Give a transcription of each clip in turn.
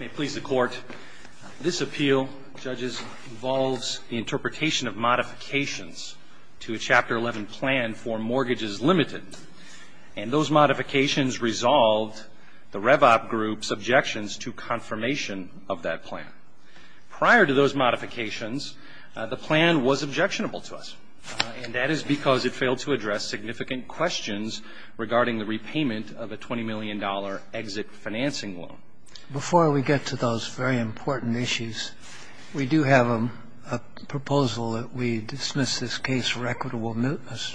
May it please the Court, this appeal, judges, involves the interpretation of modifications to a Chapter 11 plan for Mortgages Ltd. And those modifications resolved the Rev-Op Group's objections to confirmation of that plan. Prior to those modifications, the plan was objectionable to us, and that is because it failed to address significant questions regarding the repayment of a $20 million exit financing loan. Before we get to those very important issues, we do have a proposal that we dismiss this case for equitable mootness.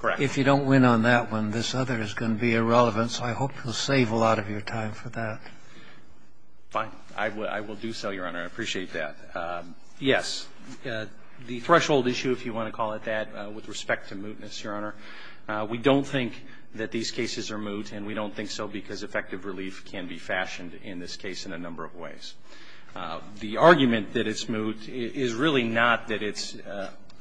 Correct. If you don't win on that one, this other is going to be irrelevant, so I hope you'll save a lot of your time for that. Fine. I will do so, Your Honor. I appreciate that. Yes, the threshold issue, if you want to call it that, with respect to mootness, Your Honor, we don't think that these cases are moot, and we don't think so because effective relief can be fashioned in this case in a number of ways. The argument that it's moot is really not that it's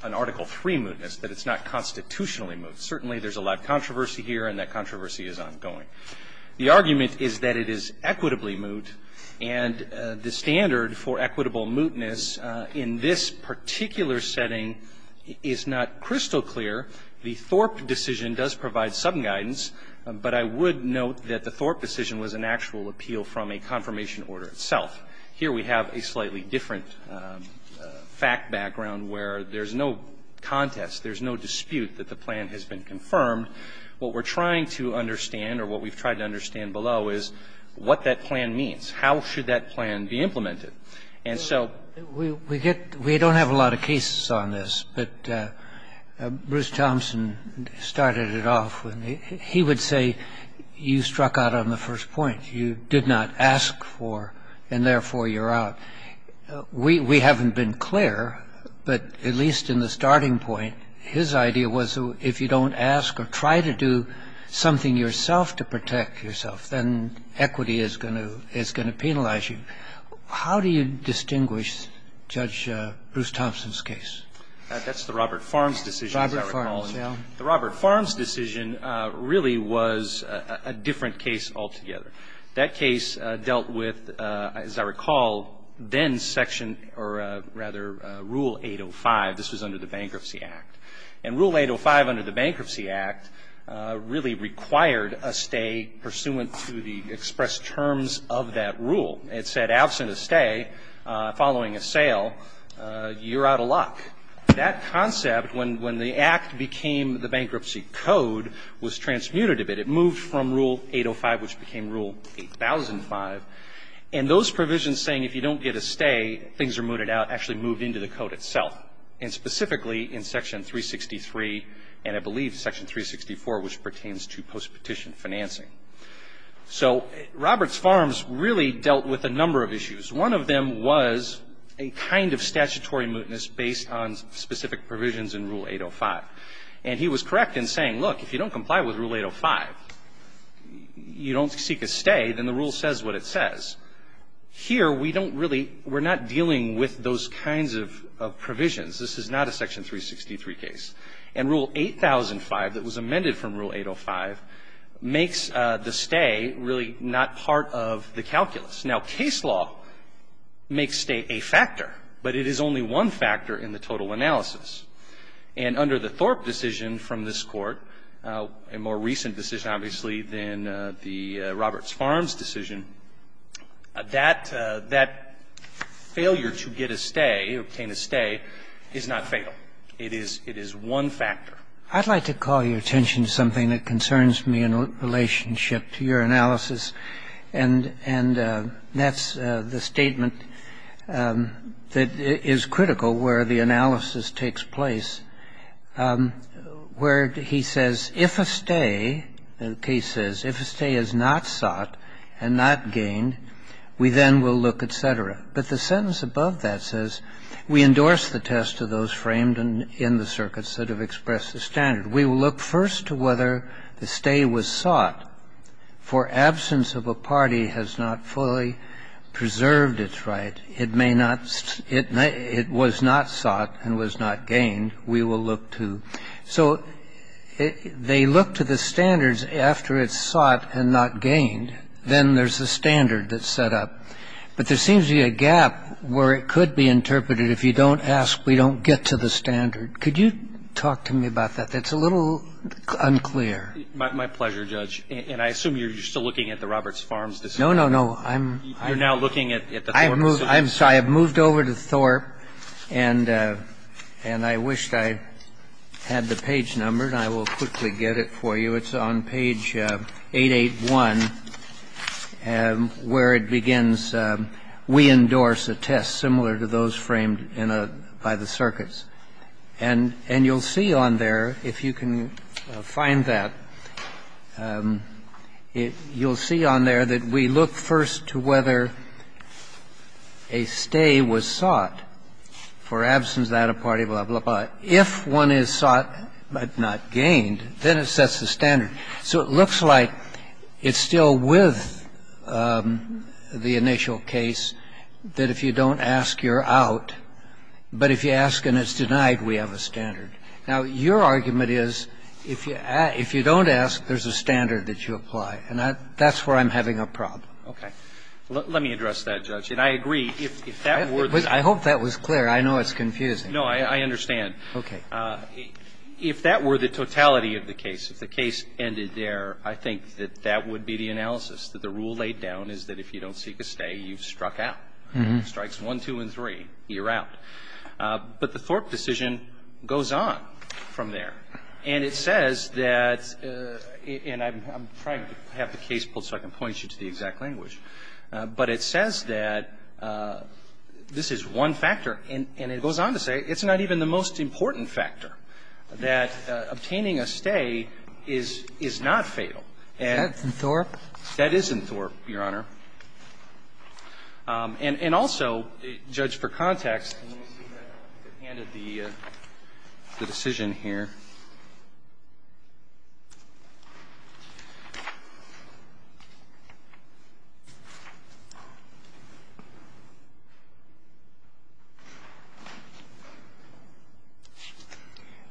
an Article III mootness, that it's not constitutionally moot. Certainly there's a lot of controversy here, and that controversy is ongoing. The argument is that it is equitably moot, and the standard for equitable mootness in this particular setting is not crystal clear. The Thorpe decision does provide some guidance, but I would note that the Thorpe decision was an actual appeal from a confirmation order itself. Here we have a slightly different fact background where there's no contest, there's no dispute that the plan has been confirmed. What we're trying to understand, or what we've tried to understand below, is what that plan means. How should that plan be implemented? And so we get we don't have a lot of cases on this. But Bruce Thompson started it off. He would say you struck out on the first point. You did not ask for, and therefore you're out. We haven't been clear, but at least in the starting point, his idea was if you don't ask or try to do something yourself to protect yourself, then equity is going to penalize you. How do you distinguish Judge Bruce Thompson's case? That's the Robert Farms decision, as I recall. Robert Farms, yeah. The Robert Farms decision really was a different case altogether. That case dealt with, as I recall, then section or rather Rule 805. This was under the Bankruptcy Act. And Rule 805 under the Bankruptcy Act really required a stay pursuant to the expressed terms of that rule. It said absent a stay following a sale, you're out of luck. That concept, when the Act became the Bankruptcy Code, was transmuted a bit. It moved from Rule 805, which became Rule 8005. And those provisions saying if you don't get a stay, things are mooted out, actually moved into the code itself. And specifically in section 363 and I believe section 364, which pertains to postpetition financing. So Robert's Farms really dealt with a number of issues. One of them was a kind of statutory mootness based on specific provisions in Rule 805. And he was correct in saying, look, if you don't comply with Rule 805, you don't seek a stay, then the rule says what it says. Here we don't really we're not dealing with those kinds of provisions. This is not a section 363 case. And Rule 8005 that was amended from Rule 805 makes the stay really not part of the calculus. Now, case law makes stay a factor, but it is only one factor in the total analysis. And under the Thorpe decision from this Court, a more recent decision, obviously, than the Roberts Farms decision, that failure to get a stay, obtain a stay, is not fatal. It is one factor. I'd like to call your attention to something that concerns me in relationship to your analysis, and that's the statement that is critical where the analysis takes place where he says, if a stay, the case says, if a stay is not sought and not gained, then there's a standard that's set up. But the sentence above that says, we endorse the test of those framed in the circuits that have expressed the standard. We will look first to whether the stay was sought, for absence of a party has not fully preserved its right. It may not – it was not sought and was not gained. We will look to. So they look to the standards after it's sought and not gained. Then there's a standard that's set up. But there seems to be a gap where it could be interpreted, if you don't ask, we don't get to the standard. Could you talk to me about that? That's a little unclear. My pleasure, Judge. And I assume you're still looking at the Roberts Farms decision? No, no, no. You're now looking at the Thorpe decision? I have moved over to Thorpe, and I wished I had the page numbered. I will quickly get it for you. It's on page 881, where it begins, we endorse a test similar to those framed by the circuits. And you'll see on there, if you can find that, you'll see on there that we look first to whether a stay was sought for absence that a party blah, blah, blah. If one is sought but not gained, then it sets the standard. So it looks like it's still with the initial case that if you don't ask, you're out. But if you ask and it's denied, we have a standard. Now, your argument is if you don't ask, there's a standard that you apply. And that's where I'm having a problem. Okay. Let me address that, Judge. And I agree, if that were the case. I hope that was clear. I know it's confusing. No, I understand. Okay. If that were the totality of the case, if the case ended there, I think that that would be the analysis, that the rule laid down is that if you don't seek a stay, you're struck out. It strikes one, two, and three. You're out. But the Thorpe decision goes on from there. And it says that, and I'm trying to have the case pulled so I can point you to the exact language. But it says that this is one factor. And it goes on to say it's not even the most important factor, that obtaining a stay is not fatal. That's in Thorpe? That is in Thorpe, Your Honor. And also, Judge, for context, let me see if I can get a hand at the decision here.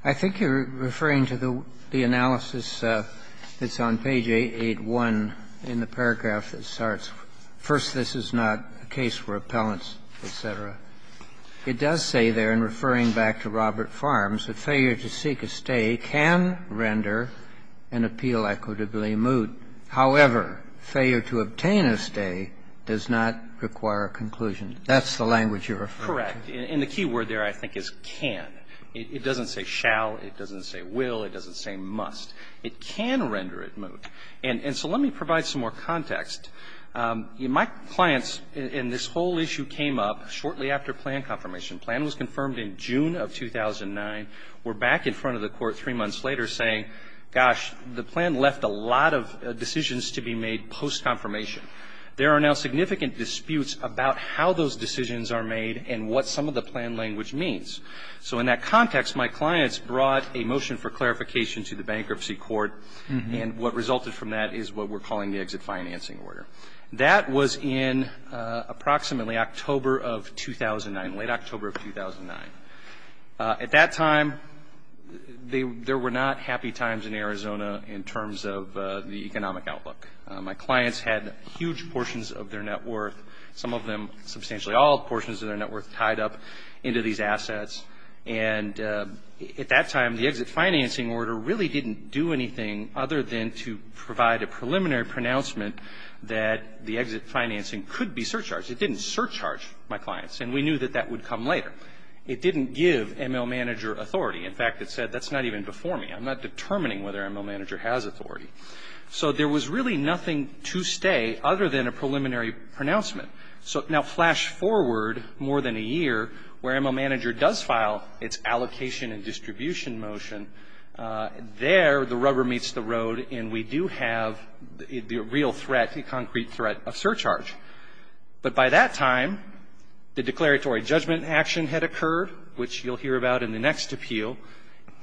I think you're referring to the analysis that's on page 881 in the paragraph that starts, first, this is not a case for appellants, et cetera. It does say there, in referring back to Robert Farms, that failure to seek a stay can render an appeal equitably moot. However, failure to obtain a stay does not require a conclusion. That's the language you're referring to. Correct. And the key word there, I think, is can. It doesn't say shall. It doesn't say must. It can render it moot. And so let me provide some more context. My clients, and this whole issue came up shortly after plan confirmation. Plan was confirmed in June of 2009. We're back in front of the Court three months later saying, gosh, the plan left a lot of decisions to be made post-confirmation. There are now significant disputes about how those decisions are made and what some of the plan language means. So in that context, my clients brought a motion for clarification to the Bankruptcy is what we're calling the exit financing order. That was in approximately October of 2009, late October of 2009. At that time, there were not happy times in Arizona in terms of the economic outlook. My clients had huge portions of their net worth, some of them substantially all portions of their net worth, tied up into these assets. And at that time, the exit financing order really didn't do anything other than to provide a preliminary pronouncement that the exit financing could be surcharged. It didn't surcharge my clients, and we knew that that would come later. It didn't give ML Manager authority. In fact, it said, that's not even before me. I'm not determining whether ML Manager has authority. So there was really nothing to stay other than a preliminary pronouncement. So now flash forward more than a year where ML Manager does file its allocation and distribution motion. There, the rubber meets the road and we do have the real threat, the concrete threat of surcharge. But by that time, the declaratory judgment action had occurred, which you'll hear about in the next appeal.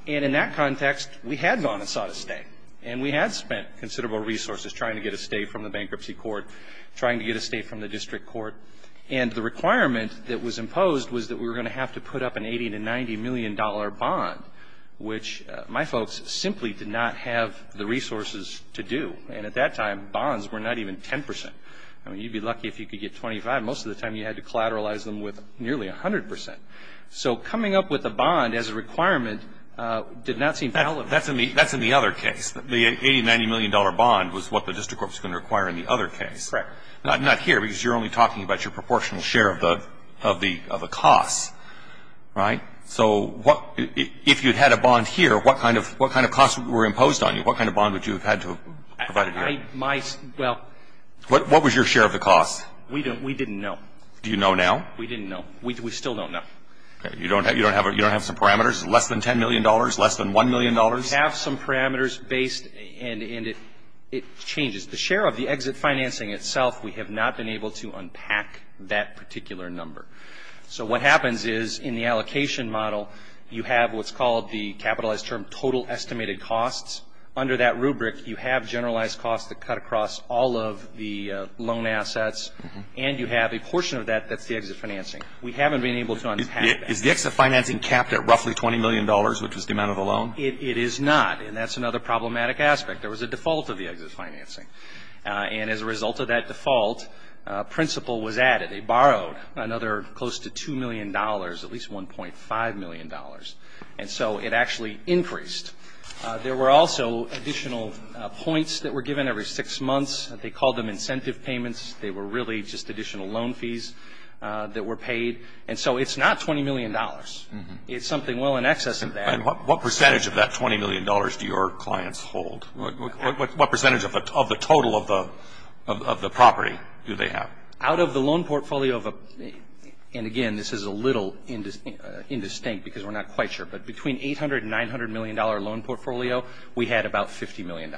And in that context, we had gone and sought a stay, and we had spent considerable resources trying to get a stay from the Bankruptcy Court, trying to get a stay from the District Court. And the requirement that was imposed was that we were going to have to put up an $80 million, $90 million bond, which my folks simply did not have the resources to do. And at that time, bonds were not even 10%. I mean, you'd be lucky if you could get 25. Most of the time, you had to collateralize them with nearly 100%. So coming up with a bond as a requirement did not seem valid. That's in the other case. The $80 million, $90 million bond was what the District Court was going to require in the other case. Correct. Now, not here, because you're only talking about your proportional share of the costs. Right? So if you'd had a bond here, what kind of costs were imposed on you? What kind of bond would you have had to have provided here? Well, what was your share of the costs? We didn't know. Do you know now? We didn't know. We still don't know. You don't have some parameters? Less than $10 million? Less than $1 million? We have some parameters based, and it changes. The share of the exit financing itself, we have not been able to unpack that particular number. So what happens is, in the allocation model, you have what's called the capitalized term total estimated costs. Under that rubric, you have generalized costs that cut across all of the loan assets, and you have a portion of that that's the exit financing. We haven't been able to unpack that. Is the exit financing capped at roughly $20 million, which is the amount of the loan? It is not, and that's another problematic aspect. There was a default of the exit financing. And as a result of that default, a principle was added. They borrowed another close to $2 million, at least $1.5 million, and so it actually increased. There were also additional points that were given every six months. They called them incentive payments. They were really just additional loan fees that were paid. And so it's not $20 million. It's something well in excess of that. And what percentage of that $20 million do your clients hold? What percentage of the total of the property do they have? Out of the loan portfolio, and, again, this is a little indistinct because we're not quite sure, but between $800 million and $900 million loan portfolio, we had about $50 million.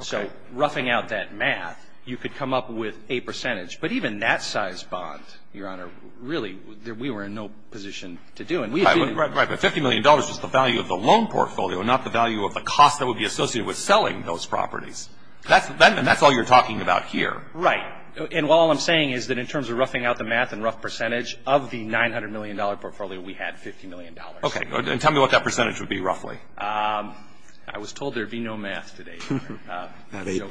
So roughing out that math, you could come up with a percentage. But even that size bond, Your Honor, really we were in no position to do. Right. But $50 million was the value of the loan portfolio, not the value of the cost that would be associated with selling those properties. And that's all you're talking about here. Right. And while all I'm saying is that in terms of roughing out the math and rough percentage, of the $900 million portfolio, we had $50 million. Okay. And tell me what that percentage would be roughly. I was told there would be no math today. It's less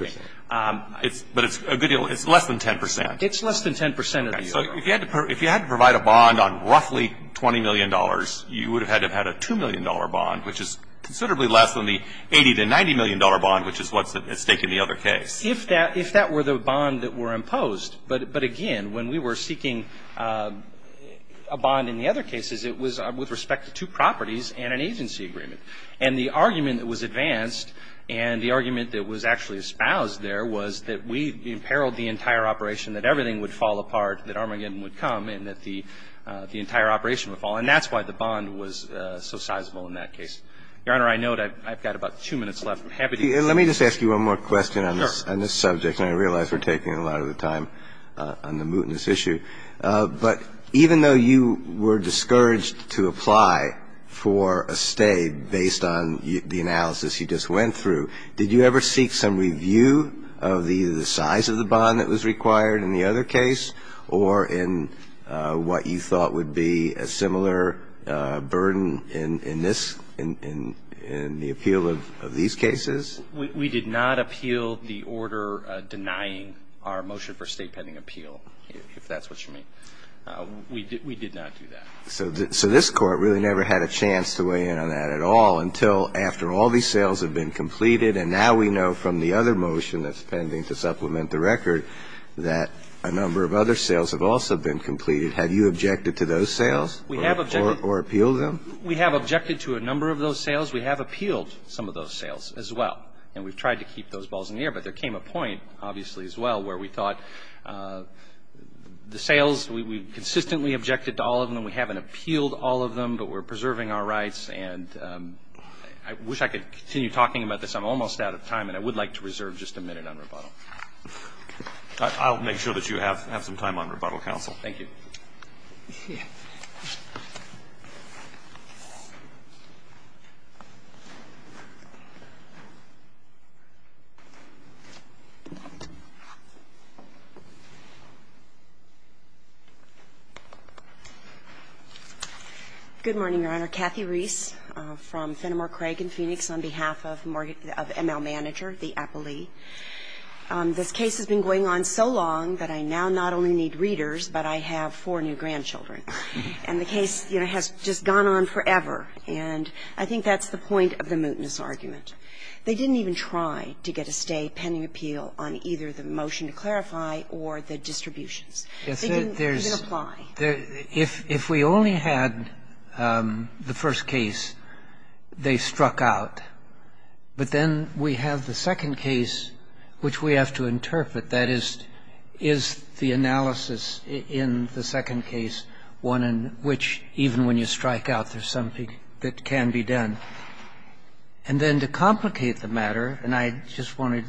than 10%. It's less than 10% of the overall. Okay. So if you had to provide a bond on roughly $20 million, you would have had to have had a $2 million bond, which is considerably less than the $80 million to $90 million bond, which is what's at stake in the other case. If that were the bond that were imposed. But, again, when we were seeking a bond in the other cases, it was with respect to two properties and an agency agreement. And the argument that was advanced and the argument that was actually espoused there was that we imperiled the entire operation, that everything would fall apart, that Armageddon would come, and that the entire operation would fall. And that's why the bond was so sizable in that case. Your Honor, I note I've got about two minutes left. I'm happy to use that. Let me just ask you one more question on this subject. Sure. And I realize we're taking a lot of the time on the mootness issue. But even though you were discouraged to apply for a stay based on the analysis you just went through, did you ever seek some review of the size of the bond that was required in the other case or in what you thought would be a similar burden in this, in the appeal of these cases? We did not appeal the order denying our motion for a stay pending appeal, if that's what you mean. We did not do that. So this Court really never had a chance to weigh in on that at all until after all these sales have been completed. And now we know from the other motion that's pending to supplement the record that a number of other sales have also been completed. Have you objected to those sales? We have objected. Or appealed them? We have objected to a number of those sales. We have appealed some of those sales as well. And we've tried to keep those balls in the air. But there came a point, obviously, as well, where we thought the sales, we consistently objected to all of them, we haven't appealed all of them, but we're preserving our rights. And I wish I could continue talking about this. I'm almost out of time. And I would like to reserve just a minute on rebuttal. I'll make sure that you have some time on rebuttal, counsel. Thank you. Good morning, Your Honor. Kathy Reese from Fenimore, Craig and Phoenix, on behalf of ML Manager, the appellee. This case has been going on so long that I now not only need readers, but I have four new grandchildren. And the case, you know, has just gone on forever. And I think that's the point of the mootness argument. They didn't even try to get a stay pending appeal on either the motion to clarify or the distributions. They didn't apply. If we only had the first case, they struck out. But then we have the second case, which we have to interpret. That is, is the analysis in the second case one in which even when you strike out, there's something that can be done. And then to complicate the matter, and I just wanted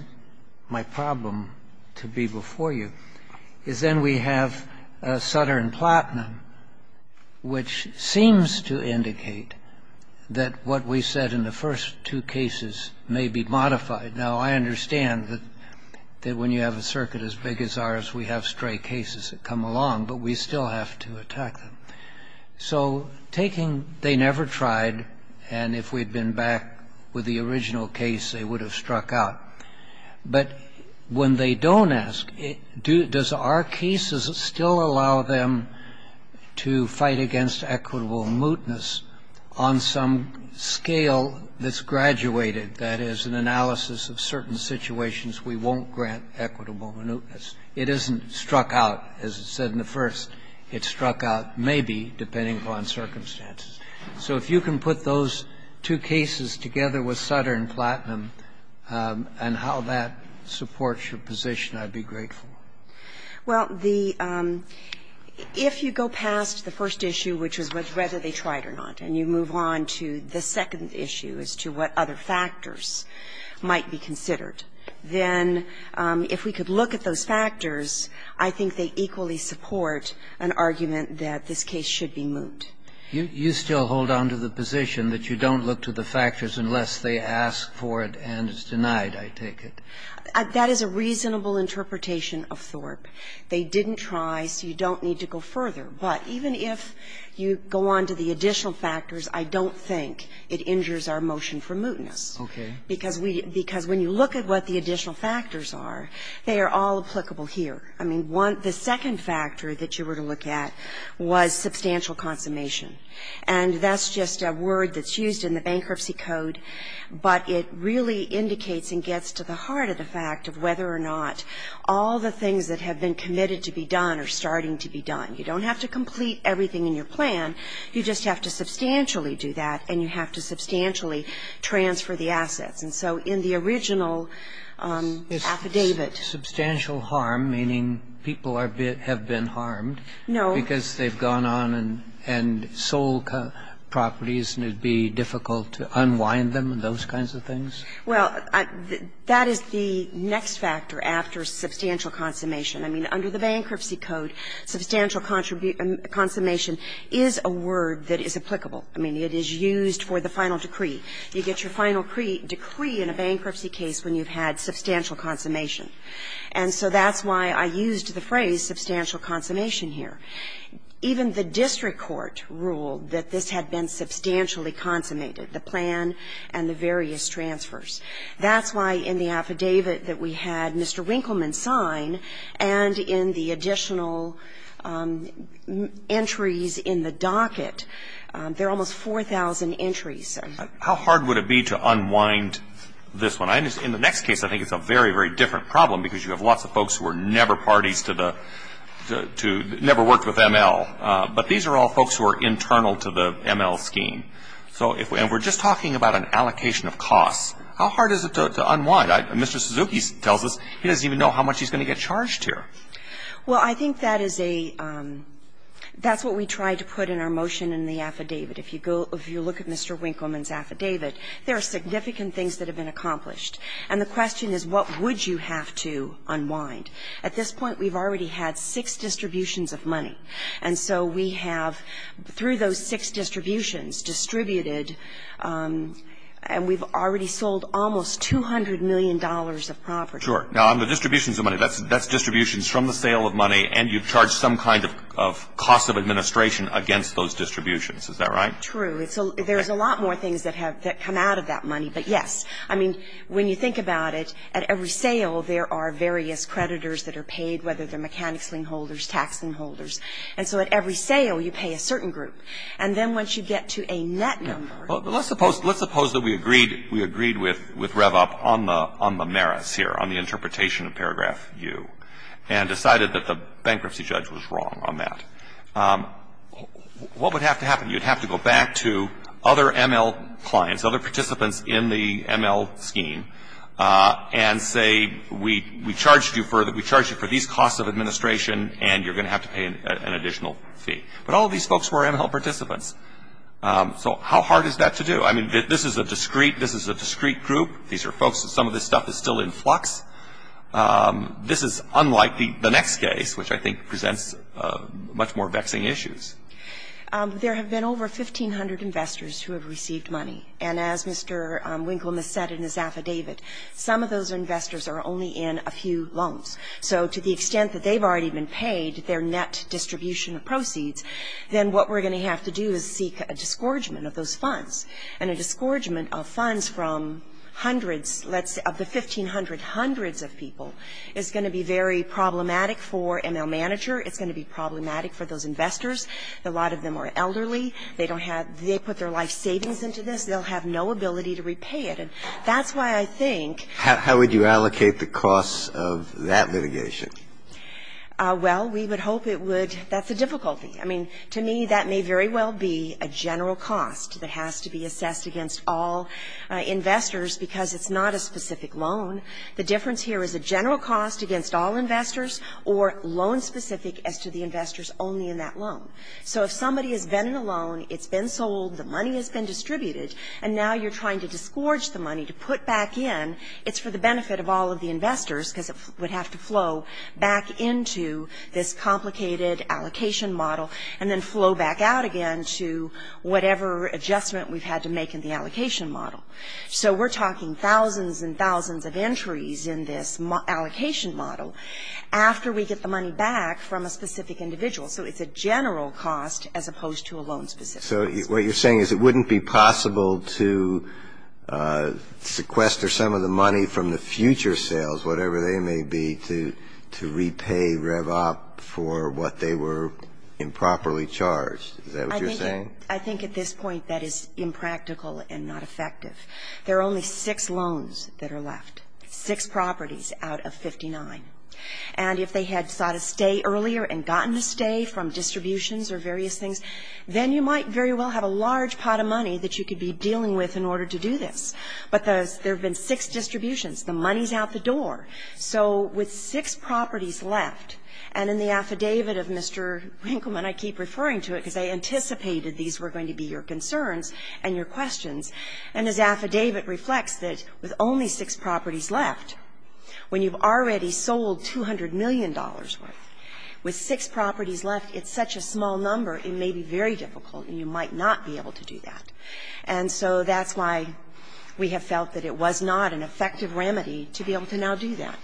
my problem to be before you, is then we have a Sutter and Platinum, which seems to indicate that what we said in the first two cases may be modified. Now, I understand that when you have a circuit as big as ours, we have stray cases that come along, but we still have to attack them. So taking they never tried, and if we had been back with the original case, they would have struck out. But when they don't ask, does our cases still allow them to fight against equitable mootness on some scale that's graduated? That is, an analysis of certain situations we won't grant equitable mootness. It isn't struck out, as it said in the first. It's struck out maybe, depending upon circumstances. So if you can put those two cases together with Sutter and Platinum and how that supports your position, I'd be grateful. Well, the ‑‑ if you go past the first issue, which is whether they tried or not, and you move on to the second issue as to what other factors might be considered, then if we could look at those factors, I think they equally support an argument that this case should be moot. You still hold on to the position that you don't look to the factors unless they ask for it and it's denied, I take it? That is a reasonable interpretation of Thorpe. They didn't try, so you don't need to go further. But even if you go on to the additional factors, I don't think it injures our motion for mootness. Okay. Because we ‑‑ because when you look at what the additional factors are, they are all applicable here. I mean, the second factor that you were to look at was substantial consummation. And that's just a word that's used in the Bankruptcy Code, but it really indicates and gets to the heart of the fact of whether or not all the things that have been committed to be done are starting to be done. You don't have to complete everything in your plan, you just have to substantially do that and you have to substantially transfer the assets. And so in the original affidavit ‑‑ I mean, people have been harmed because they've gone on and sold properties and it would be difficult to unwind them and those kinds of things? Well, that is the next factor after substantial consummation. I mean, under the Bankruptcy Code, substantial consummation is a word that is applicable. I mean, it is used for the final decree. You get your final decree in a bankruptcy case when you've had substantial consummation. And so that's why I used the phrase substantial consummation here. Even the district court ruled that this had been substantially consummated, the plan and the various transfers. That's why in the affidavit that we had Mr. Winkleman sign and in the additional entries in the docket, there are almost 4,000 entries. How hard would it be to unwind this one? In the next case, I think it's a very, very different problem because you have lots of folks who were never parties to the ‑‑ never worked with ML. But these are all folks who are internal to the ML scheme. And we're just talking about an allocation of costs. How hard is it to unwind? Mr. Suzuki tells us he doesn't even know how much he's going to get charged here. Well, I think that is a ‑‑ that's what we tried to put in our motion in the affidavit. If you look at Mr. Winkleman's affidavit, there are significant things that have been accomplished. And the question is, what would you have to unwind? At this point, we've already had six distributions of money. And so we have, through those six distributions, distributed, and we've already sold almost $200 million of property. Sure. Now, on the distributions of money, that's distributions from the sale of money and you've charged some kind of cost of administration against those distributions. Is that right? That's true. There's a lot more things that have ‑‑ that come out of that money. But, yes. I mean, when you think about it, at every sale, there are various creditors that are paid, whether they're mechanics sling holders, tax sling holders. And so at every sale, you pay a certain group. And then once you get to a net number ‑‑ Well, let's suppose ‑‑ let's suppose that we agreed ‑‑ we agreed with Revop on the merits here, on the interpretation of paragraph U, and decided that the bankruptcy judge was wrong on that. What would have to happen? You'd have to go back to other ML clients, other participants in the ML scheme, and say we charged you for these costs of administration and you're going to have to pay an additional fee. But all of these folks were ML participants. So how hard is that to do? I mean, this is a discrete group. These are folks that some of this stuff is still in flux. This is unlike the next case, which I think presents much more vexing issues. There have been over 1,500 investors who have received money. And as Mr. Winkleman said in his affidavit, some of those investors are only in a few loans. So to the extent that they've already been paid their net distribution of proceeds, then what we're going to have to do is seek a disgorgement of those funds. And a disgorgement of funds from hundreds, let's say of the 1,500 hundreds of people, is going to be very problematic for ML manager, it's going to be problematic for those investors. A lot of them are elderly. They don't have they put their life savings into this. They'll have no ability to repay it. And that's why I think. How would you allocate the costs of that litigation? Well, we would hope it would. That's a difficulty. I mean, to me, that may very well be a general cost that has to be assessed against all investors because it's not a specific loan. The difference here is a general cost against all investors or loan-specific as to the investors only in that loan. So if somebody has been in a loan, it's been sold, the money has been distributed, and now you're trying to disgorge the money to put back in, it's for the benefit of all of the investors because it would have to flow back into this complicated allocation model and then flow back out again to whatever adjustment we've had to make in the allocation model. So we're talking thousands and thousands of entries in this allocation model after we get the money back from a specific individual. So it's a general cost as opposed to a loan-specific cost. So what you're saying is it wouldn't be possible to sequester some of the money from the future sales, whatever they may be, to repay REVOP for what they were improperly charged. Is that what you're saying? I think at this point that is impractical and not effective. There are only six loans that are left, six properties out of 59. And if they had sought a stay earlier and gotten a stay from distributions or various things, then you might very well have a large pot of money that you could be dealing with in order to do this. But there have been six distributions. The money is out the door. So with six properties left, and in the affidavit of Mr. Winkleman, and I keep referring to it because I anticipated these were going to be your concerns and your questions, and his affidavit reflects that with only six properties left, when you've already sold $200 million worth, with six properties left, it's such a small number, it may be very difficult and you might not be able to do that. And so that's why we have felt that it was not an effective remedy to be able to now do that.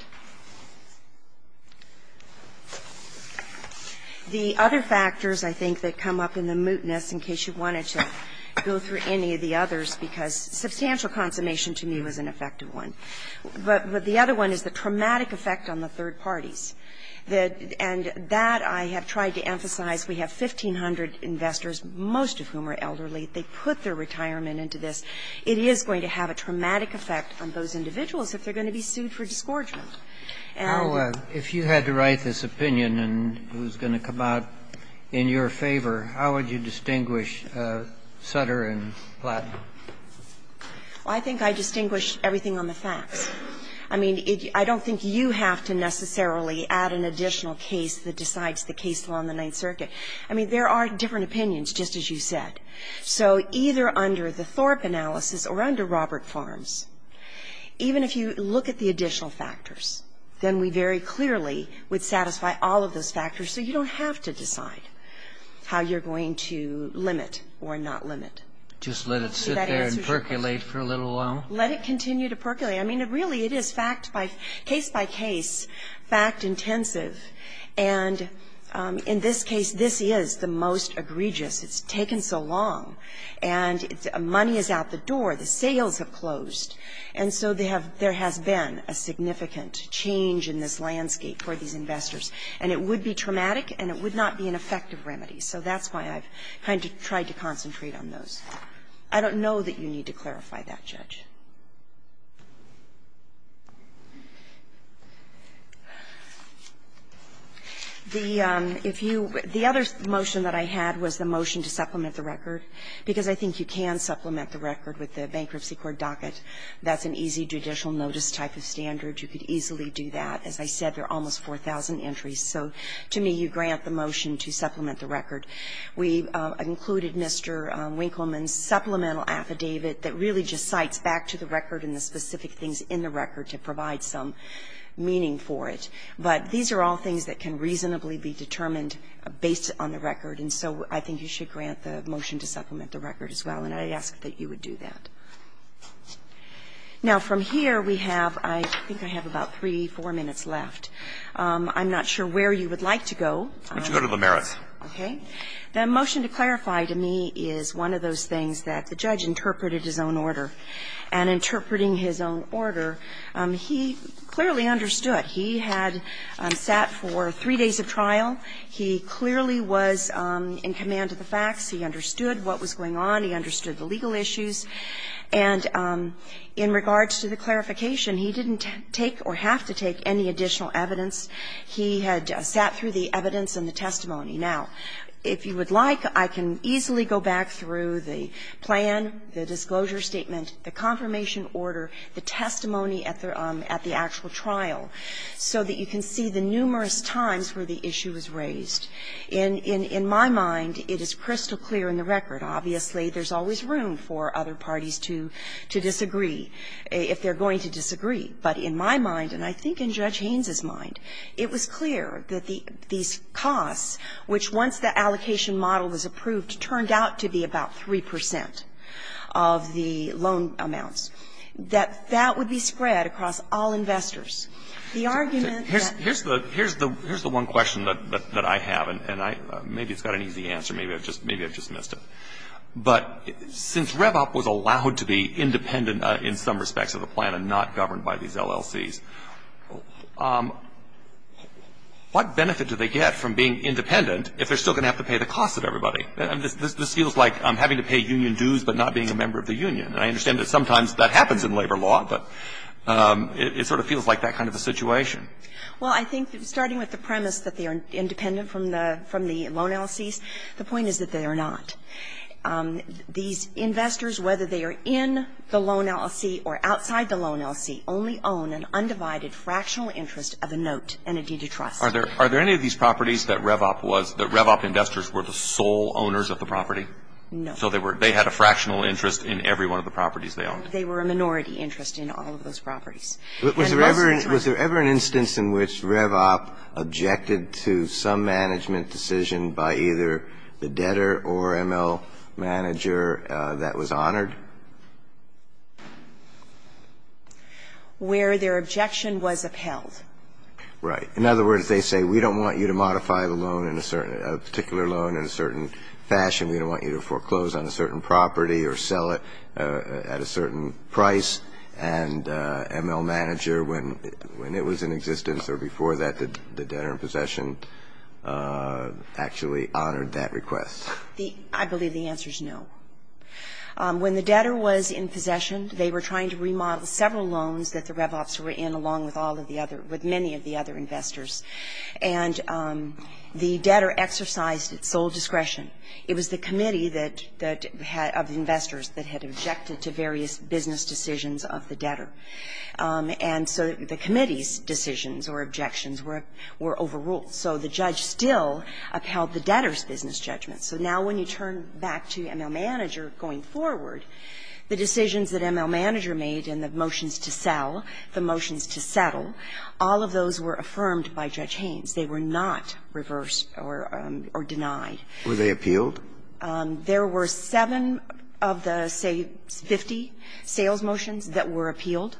The other factors, I think, that come up in the mootness, in case you wanted to go through any of the others, because substantial consummation to me was an effective one, but the other one is the traumatic effect on the third parties. And that I have tried to emphasize. We have 1,500 investors, most of whom are elderly. They put their retirement into this. It is going to have a traumatic effect on those individuals if they're going to be sued for disgorgement. And you can't do that. If you had to write this opinion, and who's going to come out in your favor, how would you distinguish Sutter and Platt? Well, I think I distinguish everything on the facts. I mean, I don't think you have to necessarily add an additional case that decides the case law in the Ninth Circuit. I mean, there are different opinions, just as you said. So either under the Thorpe analysis or under Robert Farms, even if you look at the additional factors, then we very clearly would satisfy all of those factors. So you don't have to decide how you're going to limit or not limit. Just let it sit there and percolate for a little while? Let it continue to percolate. I mean, really, it is fact by case, case by case, fact intensive. And in this case, this is the most egregious. It's taken so long, and money is out the door, the sales have closed. And so there have been a significant change in this landscape for these investors. And it would be traumatic, and it would not be an effective remedy. So that's why I've kind of tried to concentrate on those. I don't know that you need to clarify that, Judge. The other motion that I had was the motion to supplement the record, because I think you can supplement the record with the bankruptcy court docket. That's an easy judicial notice type of standard. You could easily do that. As I said, there are almost 4,000 entries. So to me, you grant the motion to supplement the record. We've included Mr. Winkleman's supplemental affidavit that really just cites back to the record and the specific things in the record to provide some meaning for it. But these are all things that can reasonably be determined based on the record, and so I think you should grant the motion to supplement the record as well. And I ask that you would do that. Now, from here, we have, I think I have about three, four minutes left. I'm not sure where you would like to go. Why don't you go to Limerith? Okay. The motion to clarify to me is one of those things that the judge interpreted his own order. And interpreting his own order, he clearly understood. He had sat for three days of trial. He clearly was in command of the facts. He understood what was going on. He understood the legal issues. And in regards to the clarification, he didn't take or have to take any additional evidence. He had sat through the evidence and the testimony. Now, if you would like, I can easily go back through the plan, the disclosure statement, the confirmation order, the testimony at the actual trial, so that you can see the numerous times where the issue was raised. In my mind, it is crystal clear in the record. Obviously, there's always room for other parties to disagree, if they're going to disagree. But in my mind, and I think in Judge Haynes' mind, it was clear that these costs, which once the allocation model was approved, turned out to be about 3 percent of the loan amounts, that that would be spread across all investors. The argument that ---- Here's the one question that I have, and maybe it's got an easy answer. Maybe I just missed it. But since Revop was allowed to be independent in some respects of the plan and not governed by these LLCs, what benefit do they get from being independent if they're still going to have to pay the costs of everybody? This feels like having to pay union dues but not being a member of the union. And I understand that sometimes that happens in labor law, but it sort of feels like that kind of a situation. Well, I think that starting with the premise that they are independent from the loan LLCs, the point is that they are not. These investors, whether they are in the loan LLC or outside the loan LLC, only own an undivided fractional interest of a note and a deed of trust. Are there any of these properties that Revop was ---- that Revop investors were the sole owners of the property? No. So they had a fractional interest in every one of the properties they owned? They were a minority interest in all of those properties. Was there ever an instance in which Revop objected to some management decision by either the debtor or ML manager that was honored? Where their objection was upheld. Right. In other words, they say, we don't want you to modify the loan in a certain ---- a particular loan in a certain fashion. We don't want you to foreclose on a certain property or sell it at a certain price, and ML manager, when it was in existence or before that, the debtor was in possession, actually honored that request. The ---- I believe the answer is no. When the debtor was in possession, they were trying to remodel several loans that the Revops were in along with all of the other ---- with many of the other investors. And the debtor exercised its sole discretion. It was the committee that had ---- of the investors that had objected to various business decisions of the debtor. And so the committee's decisions or objections were overruled. So the judge still upheld the debtor's business judgment. So now when you turn back to ML manager going forward, the decisions that ML manager made in the motions to sell, the motions to settle, all of those were affirmed by Judge Haynes. They were not reversed or denied. Were they appealed? There were seven of the, say, 50 sales motions that were appealed.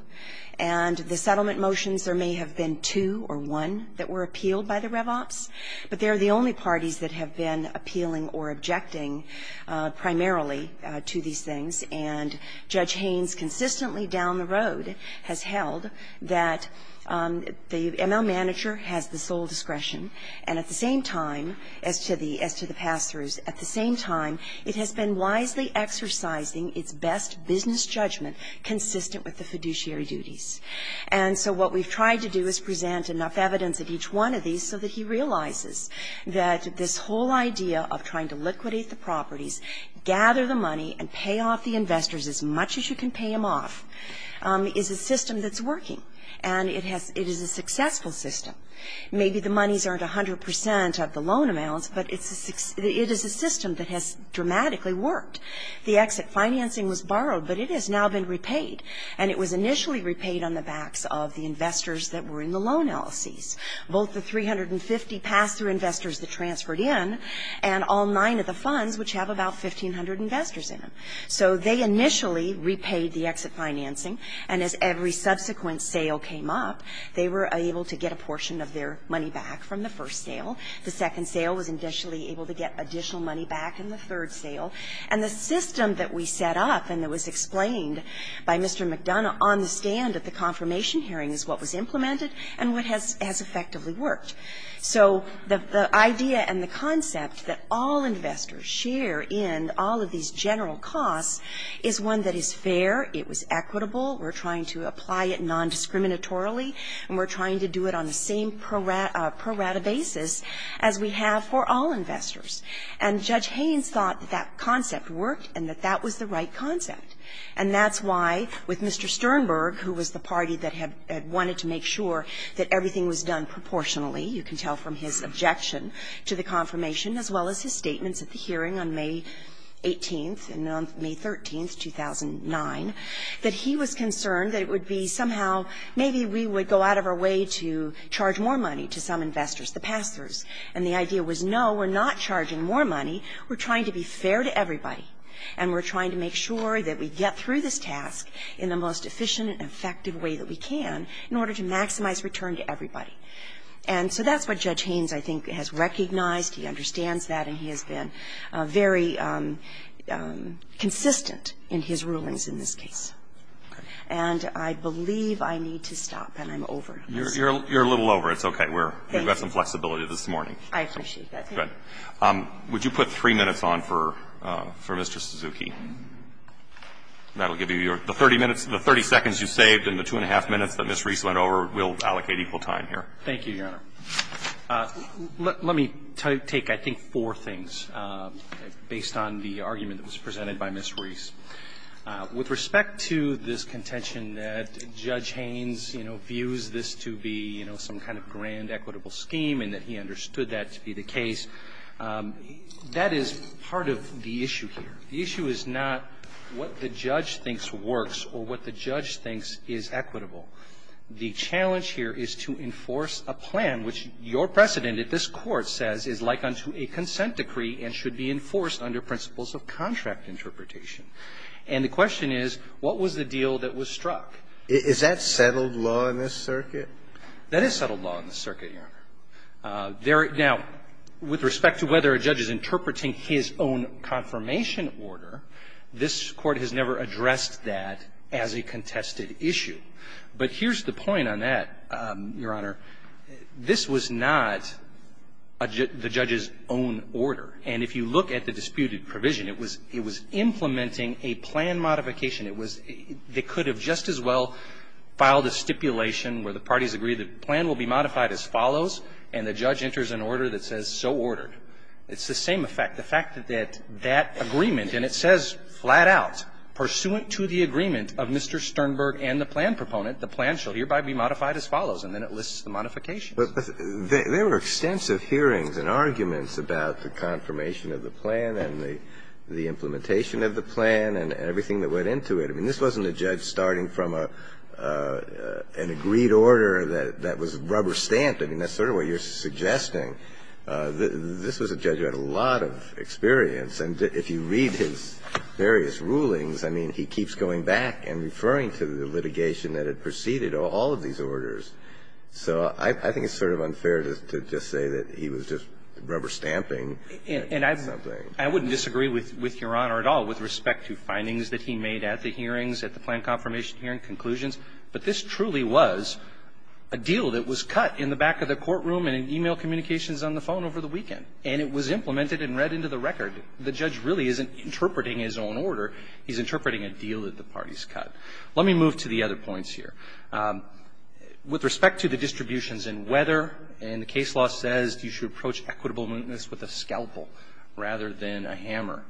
And the settlement motions, there may have been two or one that were appealed by the Revops. But they're the only parties that have been appealing or objecting primarily to these things. And Judge Haynes consistently down the road has held that the ML manager has the same time, it has been wisely exercising its best business judgment consistent with the fiduciary duties. And so what we've tried to do is present enough evidence of each one of these so that he realizes that this whole idea of trying to liquidate the properties, gather the money and pay off the investors as much as you can pay them off, is a system that's working. And it is a successful system. Maybe the monies aren't 100 percent of the loan amounts, but it is a system that has dramatically worked. The exit financing was borrowed, but it has now been repaid. And it was initially repaid on the backs of the investors that were in the loan LLCs, both the 350 pass-through investors that transferred in and all nine of the funds, which have about 1,500 investors in them. So they initially repaid the exit financing. And as every subsequent sale came up, they were able to get a portion of their money back from the first sale. The second sale was initially able to get additional money back in the third sale. And the system that we set up and that was explained by Mr. McDonough on the stand at the confirmation hearing is what was implemented and what has effectively worked. So the idea and the concept that all investors share in all of these general costs is one that is fair, it was equitable, we're trying to apply it nondiscriminatorily, and we're trying to do it on the same pro rata basis as we have for all investors. And Judge Haynes thought that concept worked and that that was the right concept. And that's why, with Mr. Sternberg, who was the party that had wanted to make sure that everything was done proportionally, you can tell from his objection to the confirmation, as well as his statements at the hearing on May 18th and on May 13th, 2009, that he was concerned that it would be somehow, maybe we would go out of our way to charge more money to some investors, the pass-throughs. And the idea was, no, we're not charging more money. We're trying to be fair to everybody. And we're trying to make sure that we get through this task in the most efficient And so that's what Judge Haynes, I think, has recognized. He understands that, and he has been very consistent in his rulings in this case. And I believe I need to stop, and I'm over. You're a little over. It's okay. We've got some flexibility this morning. I appreciate that. Good. Would you put three minutes on for Mr. Suzuki? That will give you your 30 minutes. The 30 seconds you saved and the two and a half minutes that Ms. Reese went over will allocate equal time here. Thank you, Your Honor. Let me take, I think, four things, based on the argument that was presented by Ms. Reese. With respect to this contention that Judge Haynes, you know, views this to be, you know, some kind of grand equitable scheme and that he understood that to be the case, that is part of the issue here. The issue is not what the judge thinks works or what the judge thinks is equitable. The challenge here is to enforce a plan, which your precedent at this Court says is like unto a consent decree and should be enforced under principles of contract interpretation. And the question is, what was the deal that was struck? Is that settled law in this circuit? That is settled law in this circuit, Your Honor. Now, with respect to whether a judge is interpreting his own confirmation order, this Court has never addressed that as a contested issue. But here's the point on that, Your Honor. This was not the judge's own order. And if you look at the disputed provision, it was implementing a plan modification. It was they could have just as well filed a stipulation where the parties agree the plan will be modified as follows, and the judge enters an order that says so ordered. It's the same effect. The fact that that agreement, and it says flat out, pursuant to the agreement of Mr. Sternberg and the plan proponent, the plan shall hereby be modified as follows. And then it lists the modifications. But there were extensive hearings and arguments about the confirmation of the plan and the implementation of the plan and everything that went into it. I mean, this wasn't a judge starting from an agreed order that was rubber stamped. I mean, that's sort of what you're suggesting. This was a judge who had a lot of experience. And if you read his various rulings, I mean, he keeps going back and referring to the litigation that had preceded all of these orders. So I think it's sort of unfair to just say that he was just rubber stamping something. And I wouldn't disagree with Your Honor at all with respect to findings that he made at the hearings, at the plan confirmation hearing conclusions. But this truly was a deal that was cut in the back of the courtroom and in e-mail communications on the phone over the weekend. And it was implemented and read into the record. The judge really isn't interpreting his own order. He's interpreting a deal that the parties cut. Let me move to the other points here. With respect to the distributions and whether, and the case law says you should approach equitable mootness with a scalpel rather than a hammer.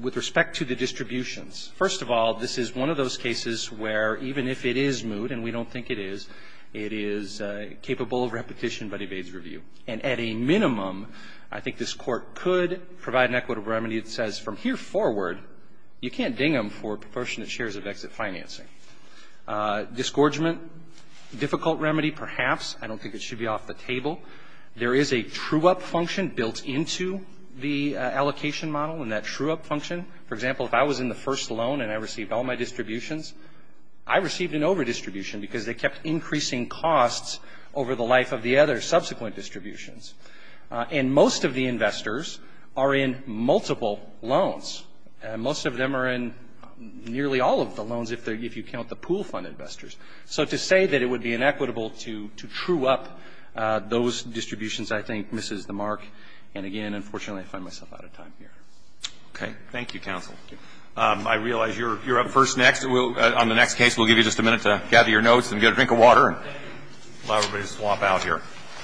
With respect to the distributions, first of all, this is one of those cases where even if it is moot, and we don't think it is, it is capable of repetition but evades review. And at a minimum, I think this Court could provide an equitable remedy that says from here forward, you can't ding them for proportionate shares of exit financing. Disgorgement, difficult remedy, perhaps. I don't think it should be off the table. There is a true-up function built into the allocation model. And that true-up function, for example, if I was in the first loan and I received all my distributions, I received an overdistribution because they kept increasing costs over the life of the other subsequent distributions. And most of the investors are in multiple loans. Most of them are in nearly all of the loans if you count the pool fund investors. So to say that it would be inequitable to true-up those distributions, I think, misses the mark. And again, unfortunately, I find myself out of time here. Okay. Thank you, counsel. I realize you're up first next. On the next case, we'll give you just a minute to gather your notes and get a drink of water. Allow everybody to swap out here.